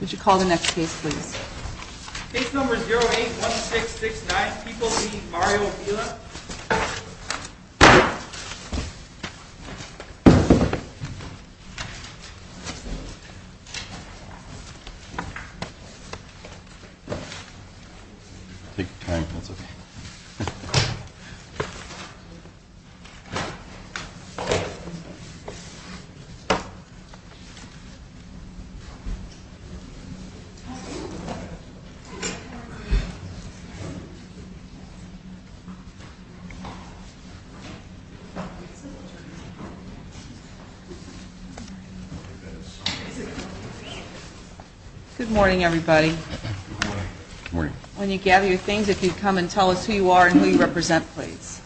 Would you call the next case please? Case number 08-1669, Peoples v. Mario Villa Good morning everybody. When you gather your things, if you'd come and tell us who you are and who you represent please.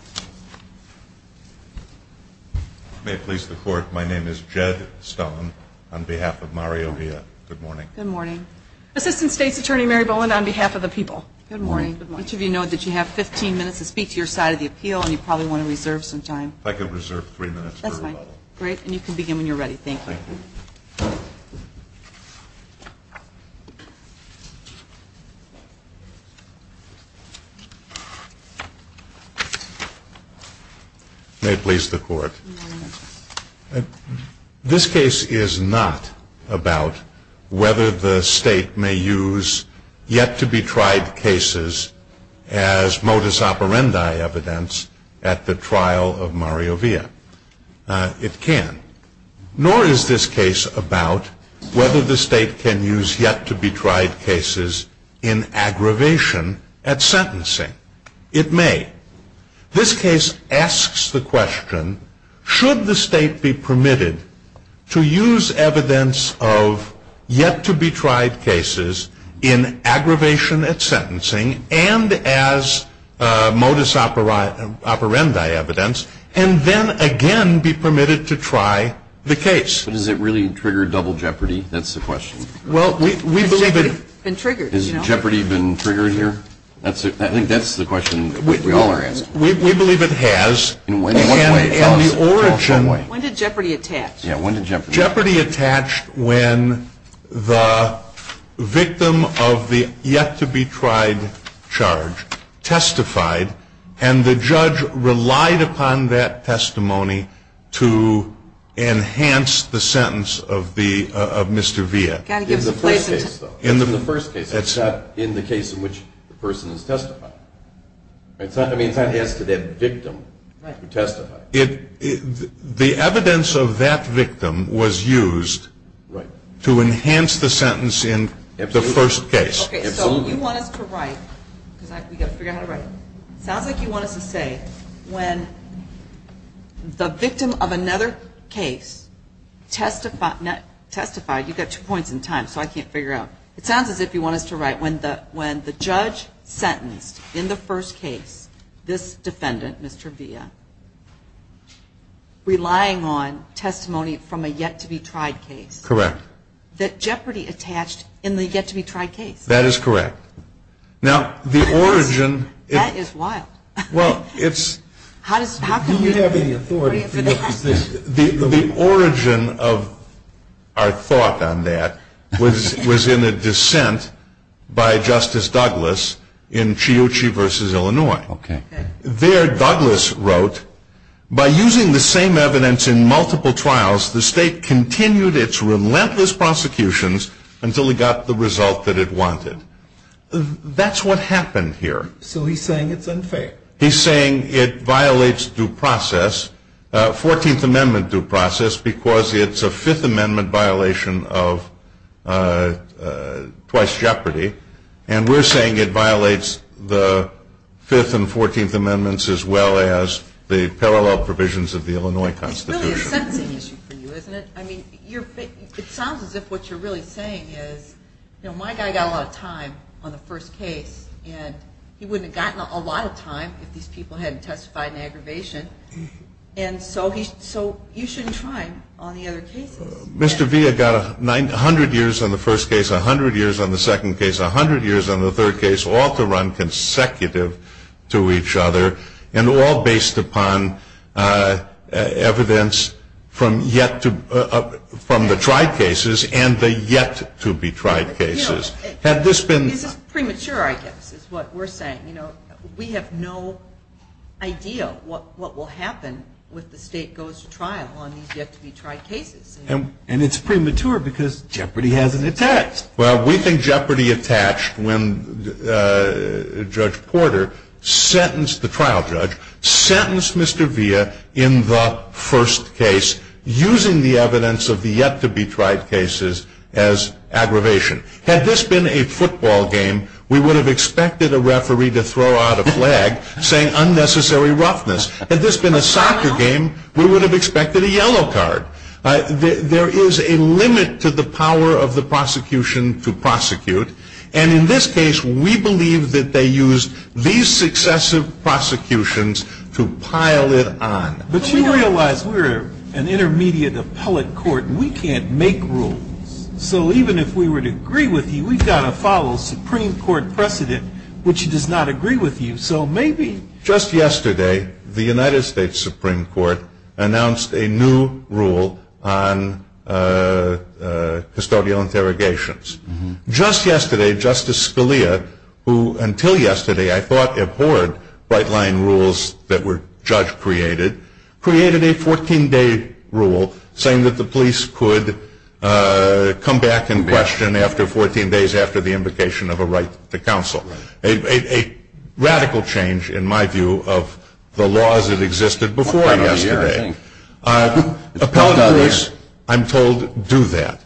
May it please the court, my name is Jed Stone on behalf of Mario Villa. Good morning. Good morning. Assistant State's Attorney Mary Bowen on behalf of the people. Good morning. Good morning. Each of you know that you have 15 minutes to speak to your side of the appeal and you probably want to reserve some time. If I could reserve three minutes. That's fine. Great. And you can begin when you're ready. Thank you. May it please the court. This case is not about whether the state may use yet-to-be-tried cases as modus operandi evidence at the trial of Mario Villa. It can. Nor is this case about whether the state can use yet-to-be-tried cases in aggravation at sentencing. It may. This case asks the question, should the state be permitted to use evidence of yet-to-be-tried cases in aggravation at sentencing and as modus operandi evidence and then again be permitted to try the case? But does it really trigger double jeopardy? That's the question. Well, we believe it. Has jeopardy been triggered here? I think that's the question we all are asking. We believe it has. And the origin. When did jeopardy attach? Yeah, when did jeopardy attach? Jeopardy attached when the victim of the yet-to-be-tried charge testified and the judge relied upon that testimony to enhance the sentence of Mr. Villa. In the first case, though. In the first case. It's not in the case in which the person has testified. I mean, it's not as to that victim who testified. The evidence of that victim was used to enhance the sentence in the first case. Okay, so you want us to write, because we've got to figure out how to write it. It sounds like you want us to say when the victim of another case testified. You've got two points in time, so I can't figure it out. It sounds as if you want us to write when the judge sentenced in the first case this defendant, Mr. Villa, relying on testimony from a yet-to-be-tried case. Correct. That jeopardy attached in the yet-to-be-tried case. That is correct. That is wild. The origin of our thought on that was in a dissent by Justice Douglas in Chiuchi v. Illinois. There, Douglas wrote, by using the same evidence in multiple trials, the state continued its relentless prosecutions until it got the result that it wanted. That's what happened here. So he's saying it's unfair. He's saying it violates due process, 14th Amendment due process, because it's a Fifth Amendment violation of twice jeopardy. And we're saying it violates the Fifth and Fourteenth Amendments as well as the parallel provisions of the Illinois Constitution. It's really a sentencing issue for you, isn't it? I mean, it sounds as if what you're really saying is, you know, my guy got a lot of time on the first case, and he wouldn't have gotten a lot of time if these people hadn't testified in aggravation. And so you shouldn't try on the other cases. Mr. V, I got a hundred years on the first case, a hundred years on the second case, a hundred years on the third case, all to run consecutive to each other, and all based upon evidence from the tried cases and the yet-to-be-tried cases. Had this been ---- This is premature, I guess, is what we're saying. You know, we have no idea what will happen when the state goes to trial on these yet-to-be-tried cases. And it's premature because jeopardy hasn't attached. Well, we think jeopardy attached when Judge Porter sentenced the trial judge, sentenced Mr. Villa in the first case using the evidence of the yet-to-be-tried cases as aggravation. Had this been a football game, we would have expected a referee to throw out a flag saying unnecessary roughness. Had this been a soccer game, we would have expected a yellow card. There is a limit to the power of the prosecution to prosecute. And in this case, we believe that they used these successive prosecutions to pile it on. But you realize we're an intermediate appellate court, and we can't make rules. So even if we were to agree with you, we've got to follow Supreme Court precedent, which does not agree with you. So maybe ---- Just yesterday, the United States Supreme Court announced a new rule on custodial interrogations. Just yesterday, Justice Scalia, who until yesterday I thought abhorred bright-line rules that were judge-created, created a 14-day rule saying that the police could come back in question after 14 days after the invocation of a right to counsel. A radical change, in my view, of the laws that existed before yesterday. Appellate courts, I'm told, do that.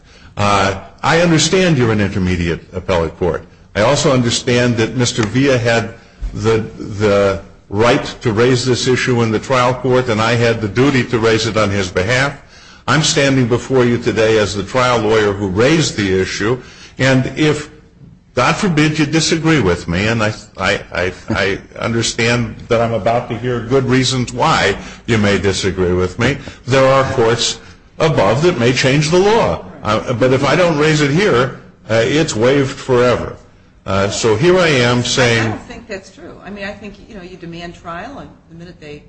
I understand you're an intermediate appellate court. I also understand that Mr. Villa had the right to raise this issue in the trial court, and I had the duty to raise it on his behalf. I'm standing before you today as the trial lawyer who raised the issue. And if, God forbid, you disagree with me, and I understand that I'm about to hear good reasons why you may disagree with me, there are courts above that may change the law. But if I don't raise it here, it's waived forever. So here I am saying ---- I don't think that's true. I mean, I think, you know, you demand trial, and the minute they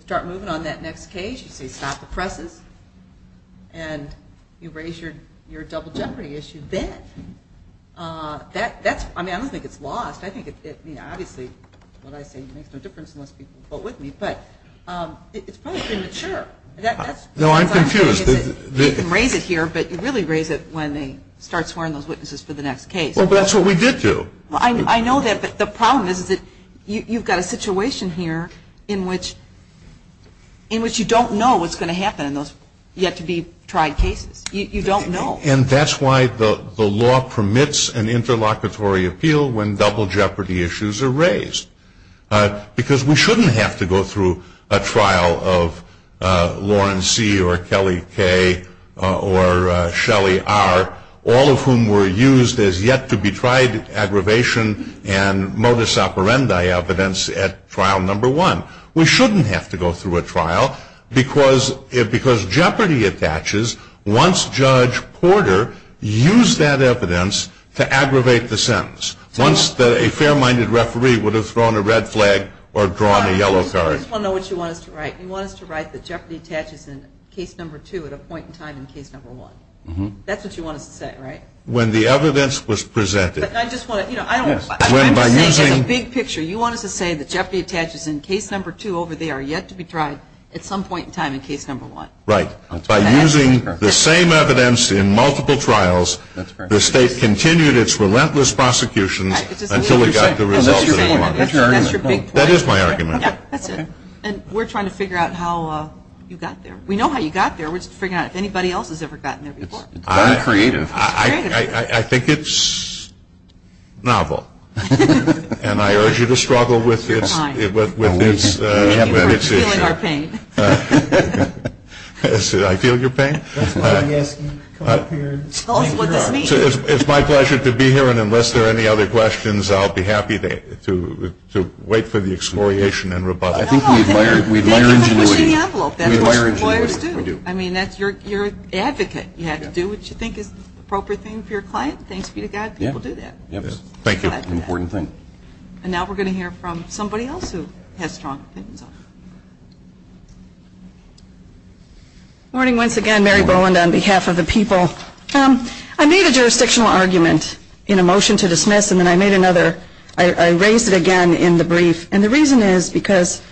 start moving on that next case, you say stop the presses, and you raise your double jeopardy issue then. That's ---- I mean, I don't think it's lost. I think it, you know, obviously what I say makes no difference unless people vote with me. But it's probably been mature. No, I'm confused. You can raise it here, but you really raise it when they start swearing those witnesses for the next case. Well, that's what we did do. I know that. But the problem is that you've got a situation here in which you don't know what's going to happen in those yet-to-be-tried cases. You don't know. And that's why the law permits an interlocutory appeal when double jeopardy issues are raised, because we shouldn't have to go through a trial of Lawrence C. or Kelly K. or Shelley R., all of whom were used as yet-to-be-tried aggravation and modus operandi evidence at trial number one. We shouldn't have to go through a trial because jeopardy attaches once Judge Porter used that evidence to aggravate the sentence, once a fair-minded referee would have thrown a red flag or drawn a yellow card. I just want to know what you want us to write. You want us to write that jeopardy attaches in case number two at a point in time in case number one. That's what you want us to say, right? When the evidence was presented. I'm just saying as a big picture, you want us to say that jeopardy attaches in case number two over there, yet-to-be-tried at some point in time in case number one. Right. By using the same evidence in multiple trials, the State continued its relentless prosecutions until it got the results it wanted. That's your big point. That is my argument. That's it. And we're trying to figure out how you got there. We know how you got there. We're just figuring out if anybody else has ever gotten there before. It's very creative. I think it's novel. And I urge you to struggle with its issue. We're feeling our pain. I feel your pain. That's why I'm asking you to come up here. Tell us what this means. It's my pleasure to be here, and unless there are any other questions, I'll be happy to wait for the exploration and rebuttal. I think we admire ingenuity. We admire ingenuity. We do. I mean, you're an advocate. You have to do what you think is the appropriate thing for your client. Thanks be to God people do that. Thank you. It's an important thing. And now we're going to hear from somebody else who has strong opinions on it. Good morning once again. Mary Boland on behalf of the people. I made a jurisdictional argument in a motion to dismiss, and then I made another. I raised it again in the brief. And the reason is because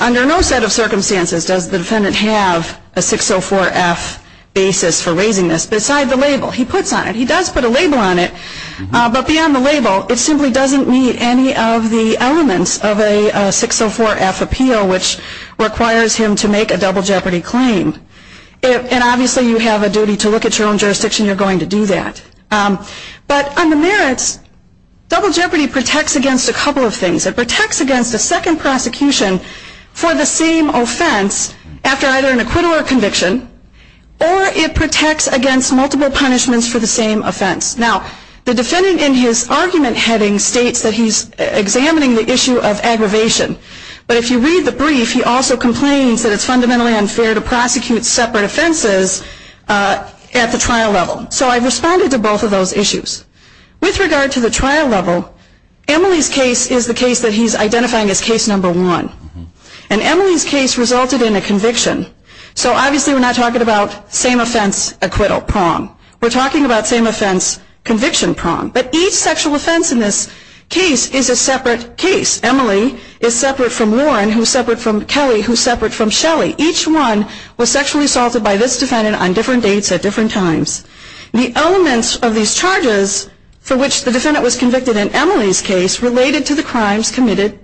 under no set of circumstances does the defendant have a 604F basis for raising this, beside the label he puts on it. He does put a label on it. But beyond the label, it simply doesn't meet any of the elements of a 604F appeal, which requires him to make a double jeopardy claim. And obviously you have a duty to look at your own jurisdiction. You're going to do that. But on the merits, double jeopardy protects against a couple of things. It protects against a second prosecution for the same offense after either an acquittal or conviction, or it protects against multiple punishments for the same offense. Now, the defendant in his argument heading states that he's examining the issue of aggravation. But if you read the brief, he also complains that it's fundamentally unfair to prosecute separate offenses at the trial level. So I've responded to both of those issues. With regard to the trial level, Emily's case is the case that he's identifying as case number one. And Emily's case resulted in a conviction. So obviously we're not talking about same offense, acquittal, prom. We're talking about same offense, conviction, prom. But each sexual offense in this case is a separate case. Emily is separate from Warren, who's separate from Kelly, who's separate from Shelley. Each one was sexually assaulted by this defendant on different dates at different times. The elements of these charges for which the defendant was convicted in Emily's case related to the crimes committed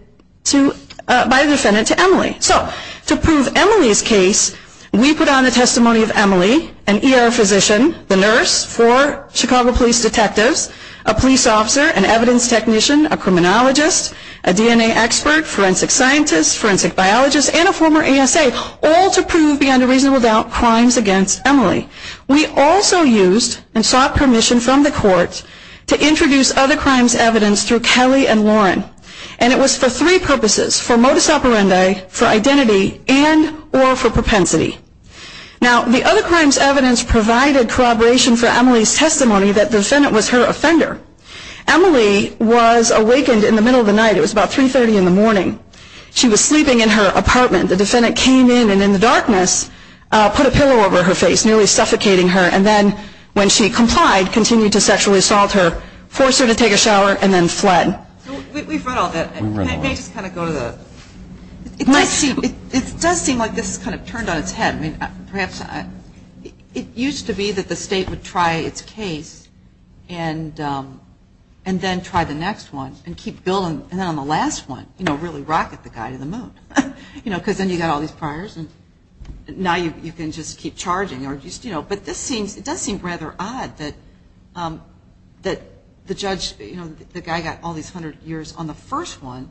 by the defendant to Emily. So to prove Emily's case, we put on the testimony of Emily, an ER physician, the nurse, four Chicago police detectives, a police officer, an evidence technician, a criminologist, a DNA expert, forensic scientist, forensic biologist, and a former ASA, all to prove beyond a reasonable doubt crimes against Emily. We also used and sought permission from the court to introduce other crimes' evidence through Kelly and Warren. And it was for three purposes, for modus operandi, for identity, and or for propensity. Now, the other crimes' evidence provided corroboration for Emily's testimony that the defendant was her offender. Emily was awakened in the middle of the night. It was about 3.30 in the morning. She was sleeping in her apartment. The defendant came in and in the darkness put a pillow over her face, nearly suffocating her. And then when she complied, continued to sexually assault her, forced her to take a shower, and then fled. So we've read all that. We've read all that. May I just kind of go to the? It does seem like this is kind of turned on its head. I mean, perhaps it used to be that the state would try its case and then try the next one and keep going, and then on the last one, you know, really rocket the guy to the moon. You know, because then you've got all these priors, and now you can just keep charging or just, you know. But this seems, it does seem rather odd that the judge, you know, the guy got all these 100 years on the first one.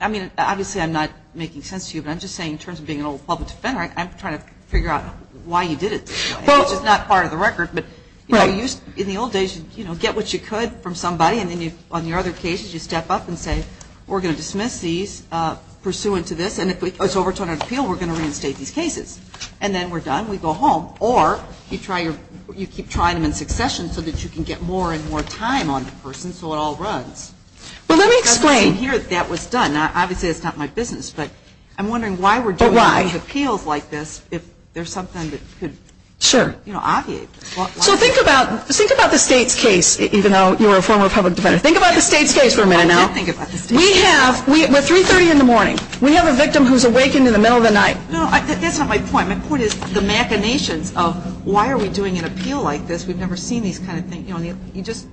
I mean, obviously I'm not making sense to you, but I'm just saying in terms of being an old public defender, I'm trying to figure out why you did it this way, which is not part of the record. But, you know, in the old days, you know, get what you could from somebody, and then on your other cases, you step up and say, we're going to dismiss these pursuant to this, and if it's overturned on appeal, we're going to reinstate these cases. And then we're done. We go home. Or you try your, you keep trying them in succession so that you can get more and more time on the person so it all runs. Well, let me explain. It doesn't seem here that that was done. Now, obviously that's not my business, but I'm wondering why we're doing appeals like this if there's something that could, you know, obviate. So think about, think about the state's case, even though you were a former public defender. Think about the state's case for a minute now. I did think about the state's case. We have, we're 3.30 in the morning. We have a victim who's awakened in the middle of the night. No, that's not my point. My point is the machinations of why are we doing an appeal like this? We've never seen these kind of things. You know, you just,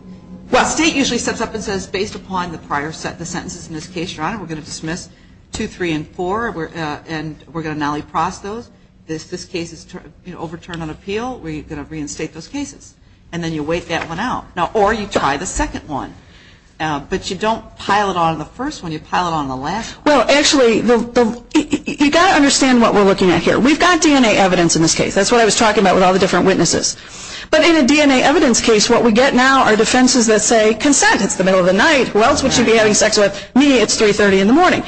well, state usually steps up and says, based upon the prior sentences in this case, Your Honor, we're going to dismiss 2, 3, and 4, and we're going to nally-pross those. This case is overturned on appeal. We're going to reinstate those cases. And then you wait that one out. Or you try the second one. But you don't pile it on the first one. You pile it on the last one. Well, actually, you've got to understand what we're looking at here. We've got DNA evidence in this case. That's what I was talking about with all the different witnesses. But in a DNA evidence case, what we get now are defenses that say consent. It's the middle of the night. Who else would she be having sex with? Me. It's 3.30 in the morning.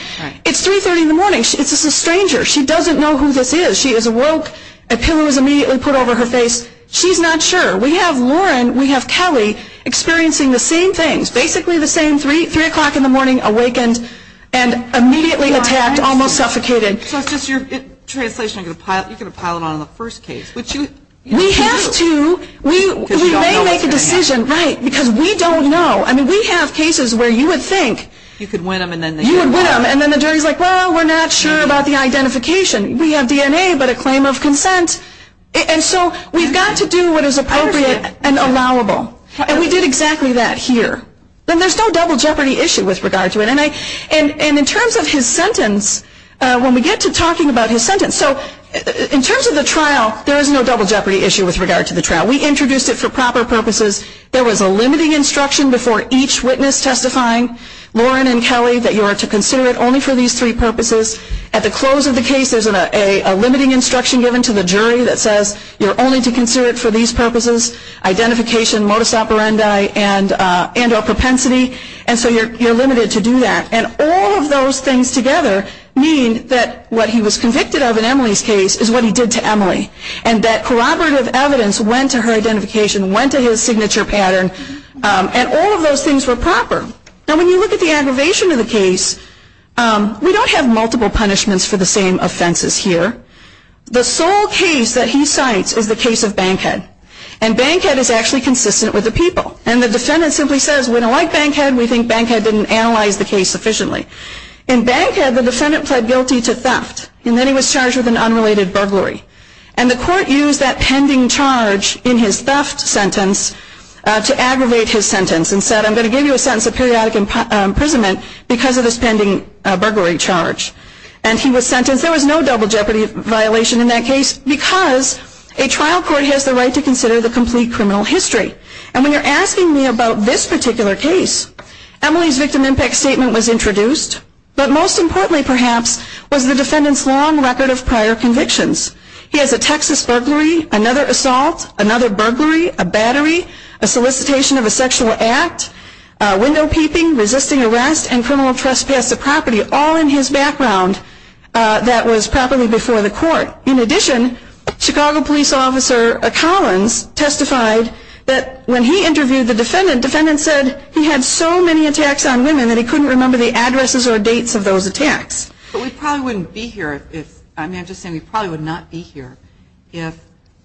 It's 3.30 in the morning. It's a stranger. She doesn't know who this is. She is awoke. A pillow is immediately put over her face. She's not sure. We have Lauren. We have Kelly experiencing the same things. Basically the same. 3 o'clock in the morning, awakened, and immediately attacked, almost suffocated. So it's just your translation. You're going to pile it on the first case. We have to. We may make a decision. Right. Because we don't know. I mean, we have cases where you would think you would win them. And then the jury is like, well, we're not sure about the identification. We have DNA, but a claim of consent. And so we've got to do what is appropriate and allowable. And we did exactly that here. And there's no double jeopardy issue with regard to it. And in terms of his sentence, when we get to talking about his sentence, so in terms of the trial, there is no double jeopardy issue with regard to the trial. We introduced it for proper purposes. There was a limiting instruction before each witness testifying, Lauren and Kelly, that you are to consider it only for these three purposes. At the close of the case, there's a limiting instruction given to the jury that says, you're only to consider it for these purposes, identification, modus operandi, and or propensity. And so you're limited to do that. And all of those things together mean that what he was convicted of in Emily's case is what he did to Emily. And that corroborative evidence went to her identification, went to his signature pattern. And all of those things were proper. Now, when you look at the aggravation of the case, we don't have multiple punishments for the same offenses here. The sole case that he cites is the case of Bankhead. And Bankhead is actually consistent with the people. And the defendant simply says, we don't like Bankhead. We think Bankhead didn't analyze the case sufficiently. In Bankhead, the defendant pled guilty to theft. And then he was charged with an unrelated burglary. And the court used that pending charge in his theft sentence to aggravate his sentence and said, I'm going to give you a sentence of periodic imprisonment because of this pending burglary charge. And he was sentenced. There was no double jeopardy violation in that case because a trial court has the right to consider the complete criminal history. And when you're asking me about this particular case, Emily's victim impact statement was introduced. But most importantly, perhaps, was the defendant's long record of prior convictions. He has a Texas burglary, another assault, another burglary, a battery, a solicitation of a sexual act, window peeping, resisting arrest, and criminal trespass of property all in his background that was probably before the court. In addition, Chicago police officer Collins testified that when he interviewed the defendant, the defendant said he had so many attacks on women that he couldn't remember the addresses or dates of those attacks. But we probably wouldn't be here if, I mean, I'm just saying we probably would not be here if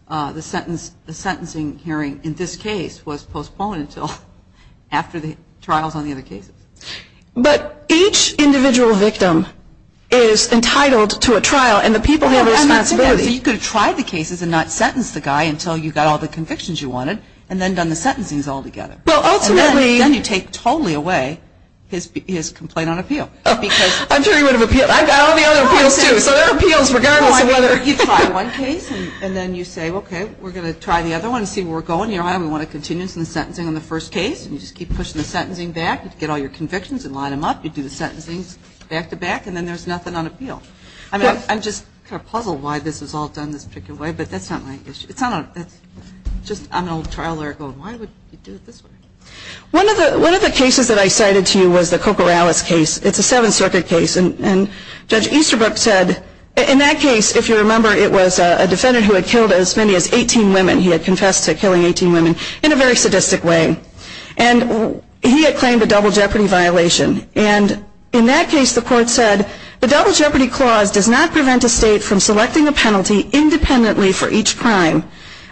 the sentence, the sentencing hearing in this case was postponed until after the trials on the other cases. But each individual victim is entitled to a trial and the people have a responsibility. You could have tried the cases and not sentenced the guy until you got all the convictions you wanted and then done the sentencings all together. Well, ultimately. And then you take totally away his complaint on appeal. I'm sure he would have appealed. I got all the other appeals, too. So there are appeals regardless of whether. You try one case and then you say, okay, we're going to try the other one and see where we're going here. I don't want to continue the sentencing on the first case. And you just keep pushing the sentencing back. You get all your convictions and line them up. You do the sentencing back to back and then there's nothing on appeal. I mean, I'm just kind of puzzled why this was all done this particular way, but that's not my issue. It's not. It's just I'm an old trial lawyer going, why would you do it this way? One of the cases that I cited to you was the Cocorales case. It's a Seventh Circuit case. And Judge Easterbrook said in that case, if you remember, it was a defendant who had killed as many as 18 women. He had confessed to killing 18 women in a very sadistic way. And he had claimed a double jeopardy violation. And in that case, the court said the double jeopardy clause does not prevent a state from selecting a penalty independently for each crime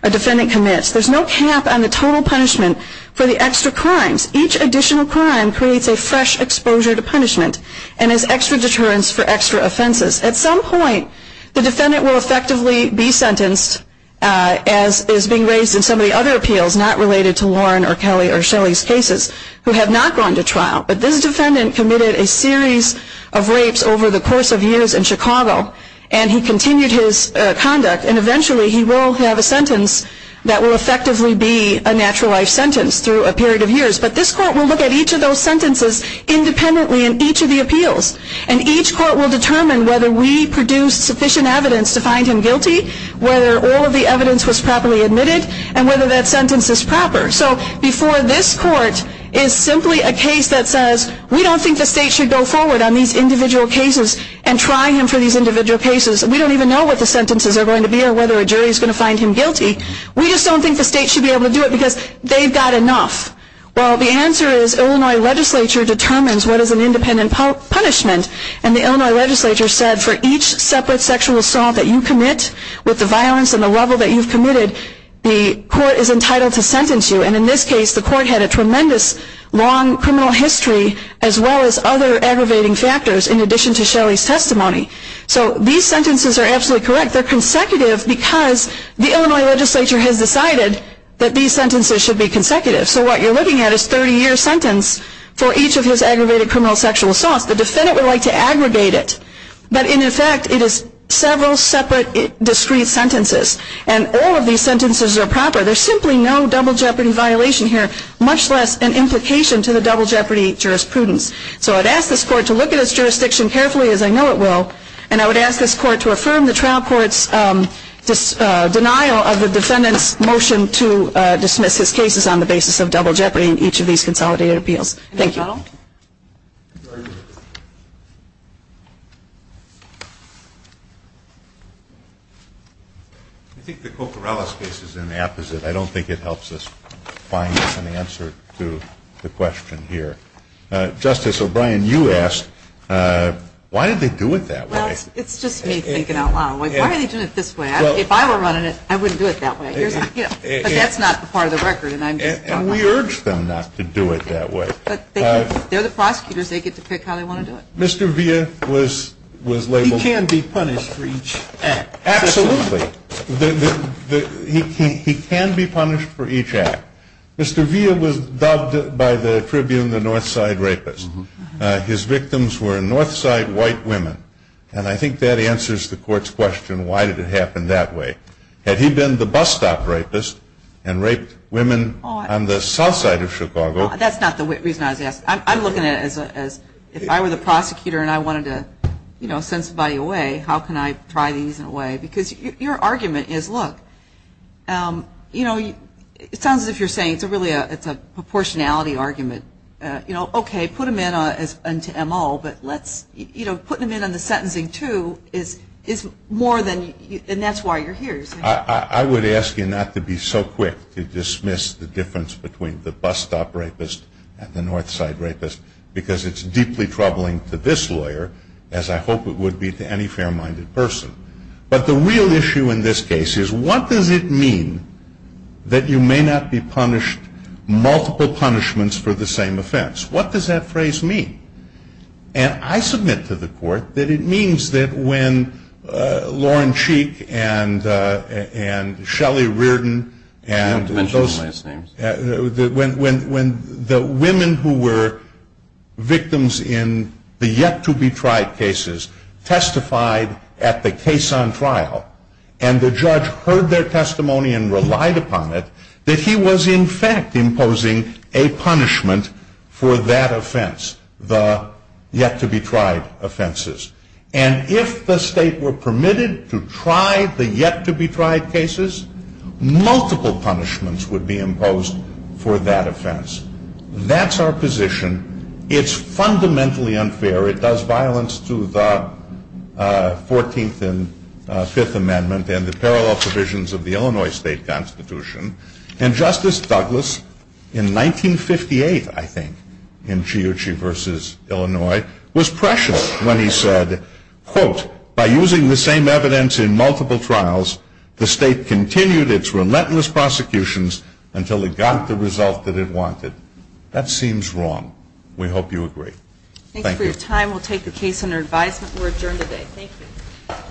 a defendant commits. There's no cap on the total punishment for the extra crimes. Each additional crime creates a fresh exposure to punishment. And there's extra deterrence for extra offenses. At some point, the defendant will effectively be sentenced, as is being raised in some of the other appeals, not related to Lauren or Kelly or Shelley's cases, who have not gone to trial. But this defendant committed a series of rapes over the course of years in Chicago. And he continued his conduct. And eventually, he will have a sentence that will effectively be a natural life sentence through a period of years. But this court will look at each of those sentences independently in each of the appeals. And each court will determine whether we produced sufficient evidence to find him guilty, whether all of the evidence was properly admitted, and whether that sentence is proper. So before this court is simply a case that says, we don't think the state should go forward on these individual cases and try him for these individual cases. We don't even know what the sentences are going to be or whether a jury is going to find him guilty. We just don't think the state should be able to do it because they've got enough. Well, the answer is Illinois legislature determines what is an independent punishment. And the Illinois legislature said for each separate sexual assault that you commit, with the violence and the level that you've committed, the court is entitled to sentence you. And in this case, the court had a tremendous long criminal history, as well as other aggravating factors in addition to Shelley's testimony. So these sentences are absolutely correct. They're consecutive because the Illinois legislature has decided that these sentences should be consecutive. So what you're looking at is a 30-year sentence for each of his aggravated criminal sexual assaults. The defendant would like to aggregate it. But in effect, it is several separate discrete sentences. And all of these sentences are proper. There's simply no double jeopardy violation here, much less an implication to the double jeopardy jurisprudence. So I'd ask this court to look at its jurisdiction carefully, as I know it will, and I would ask this court to affirm the trial court's denial of the defendant's motion to dismiss his cases on the basis of double jeopardy in each of these consolidated appeals. Thank you. I think the Coccarella case is in the opposite. I don't think it helps us find an answer to the question here. Justice O'Brien, you asked, why did they do it that way? Well, it's just me thinking out loud. Why are they doing it this way? If I were running it, I wouldn't do it that way. But that's not part of the record, and I'm just talking about it. And we urge them not to do it that way. But they're the prosecutors. They get to pick how they want to do it. Mr. Villa was labeled. He can be punished for each act. Absolutely. He can be punished for each act. Mr. Villa was dubbed by the Tribune the North Side Rapist. His victims were North Side white women. And I think that answers the court's question, why did it happen that way? Had he been the bus stop rapist and raped women on the south side of Chicago? That's not the reason I was asking. I'm looking at it as if I were the prosecutor and I wanted to, you know, send somebody away, how can I try these in a way? Because your argument is, look, you know, it sounds as if you're saying it's really a proportionality argument. You know, okay, put them into M.O., but let's, you know, putting them in on the sentencing too is more than, and that's why you're here. I would ask you not to be so quick to dismiss the difference between the bus stop rapist and the North Side Rapist because it's deeply troubling to this lawyer, as I hope it would be to any fair-minded person. But the real issue in this case is, what does it mean that you may not be punished multiple punishments for the same offense? What does that phrase mean? And I submit to the court that it means that when Lauren Cheek and Shelley Reardon and those, when the women who were victims in the yet-to-be-tried cases testified at the case on trial and the judge heard their testimony and relied upon it, that he was in fact imposing a punishment for that offense, the yet-to-be-tried offenses. And if the state were permitted to try the yet-to-be-tried cases, multiple punishments would be imposed for that offense. That's our position. It's fundamentally unfair. It does violence to the Fourteenth and Fifth Amendment and the parallel provisions of the Illinois State Constitution. And Justice Douglas, in 1958, I think, in Chiuchi v. Illinois, was pressured when he said, quote, by using the same evidence in multiple trials, the state continued its relentless prosecutions until it got the result that it wanted. That seems wrong. We hope you agree. Thanks for your time. We'll take the case under advisement. We're adjourned today. Thank you.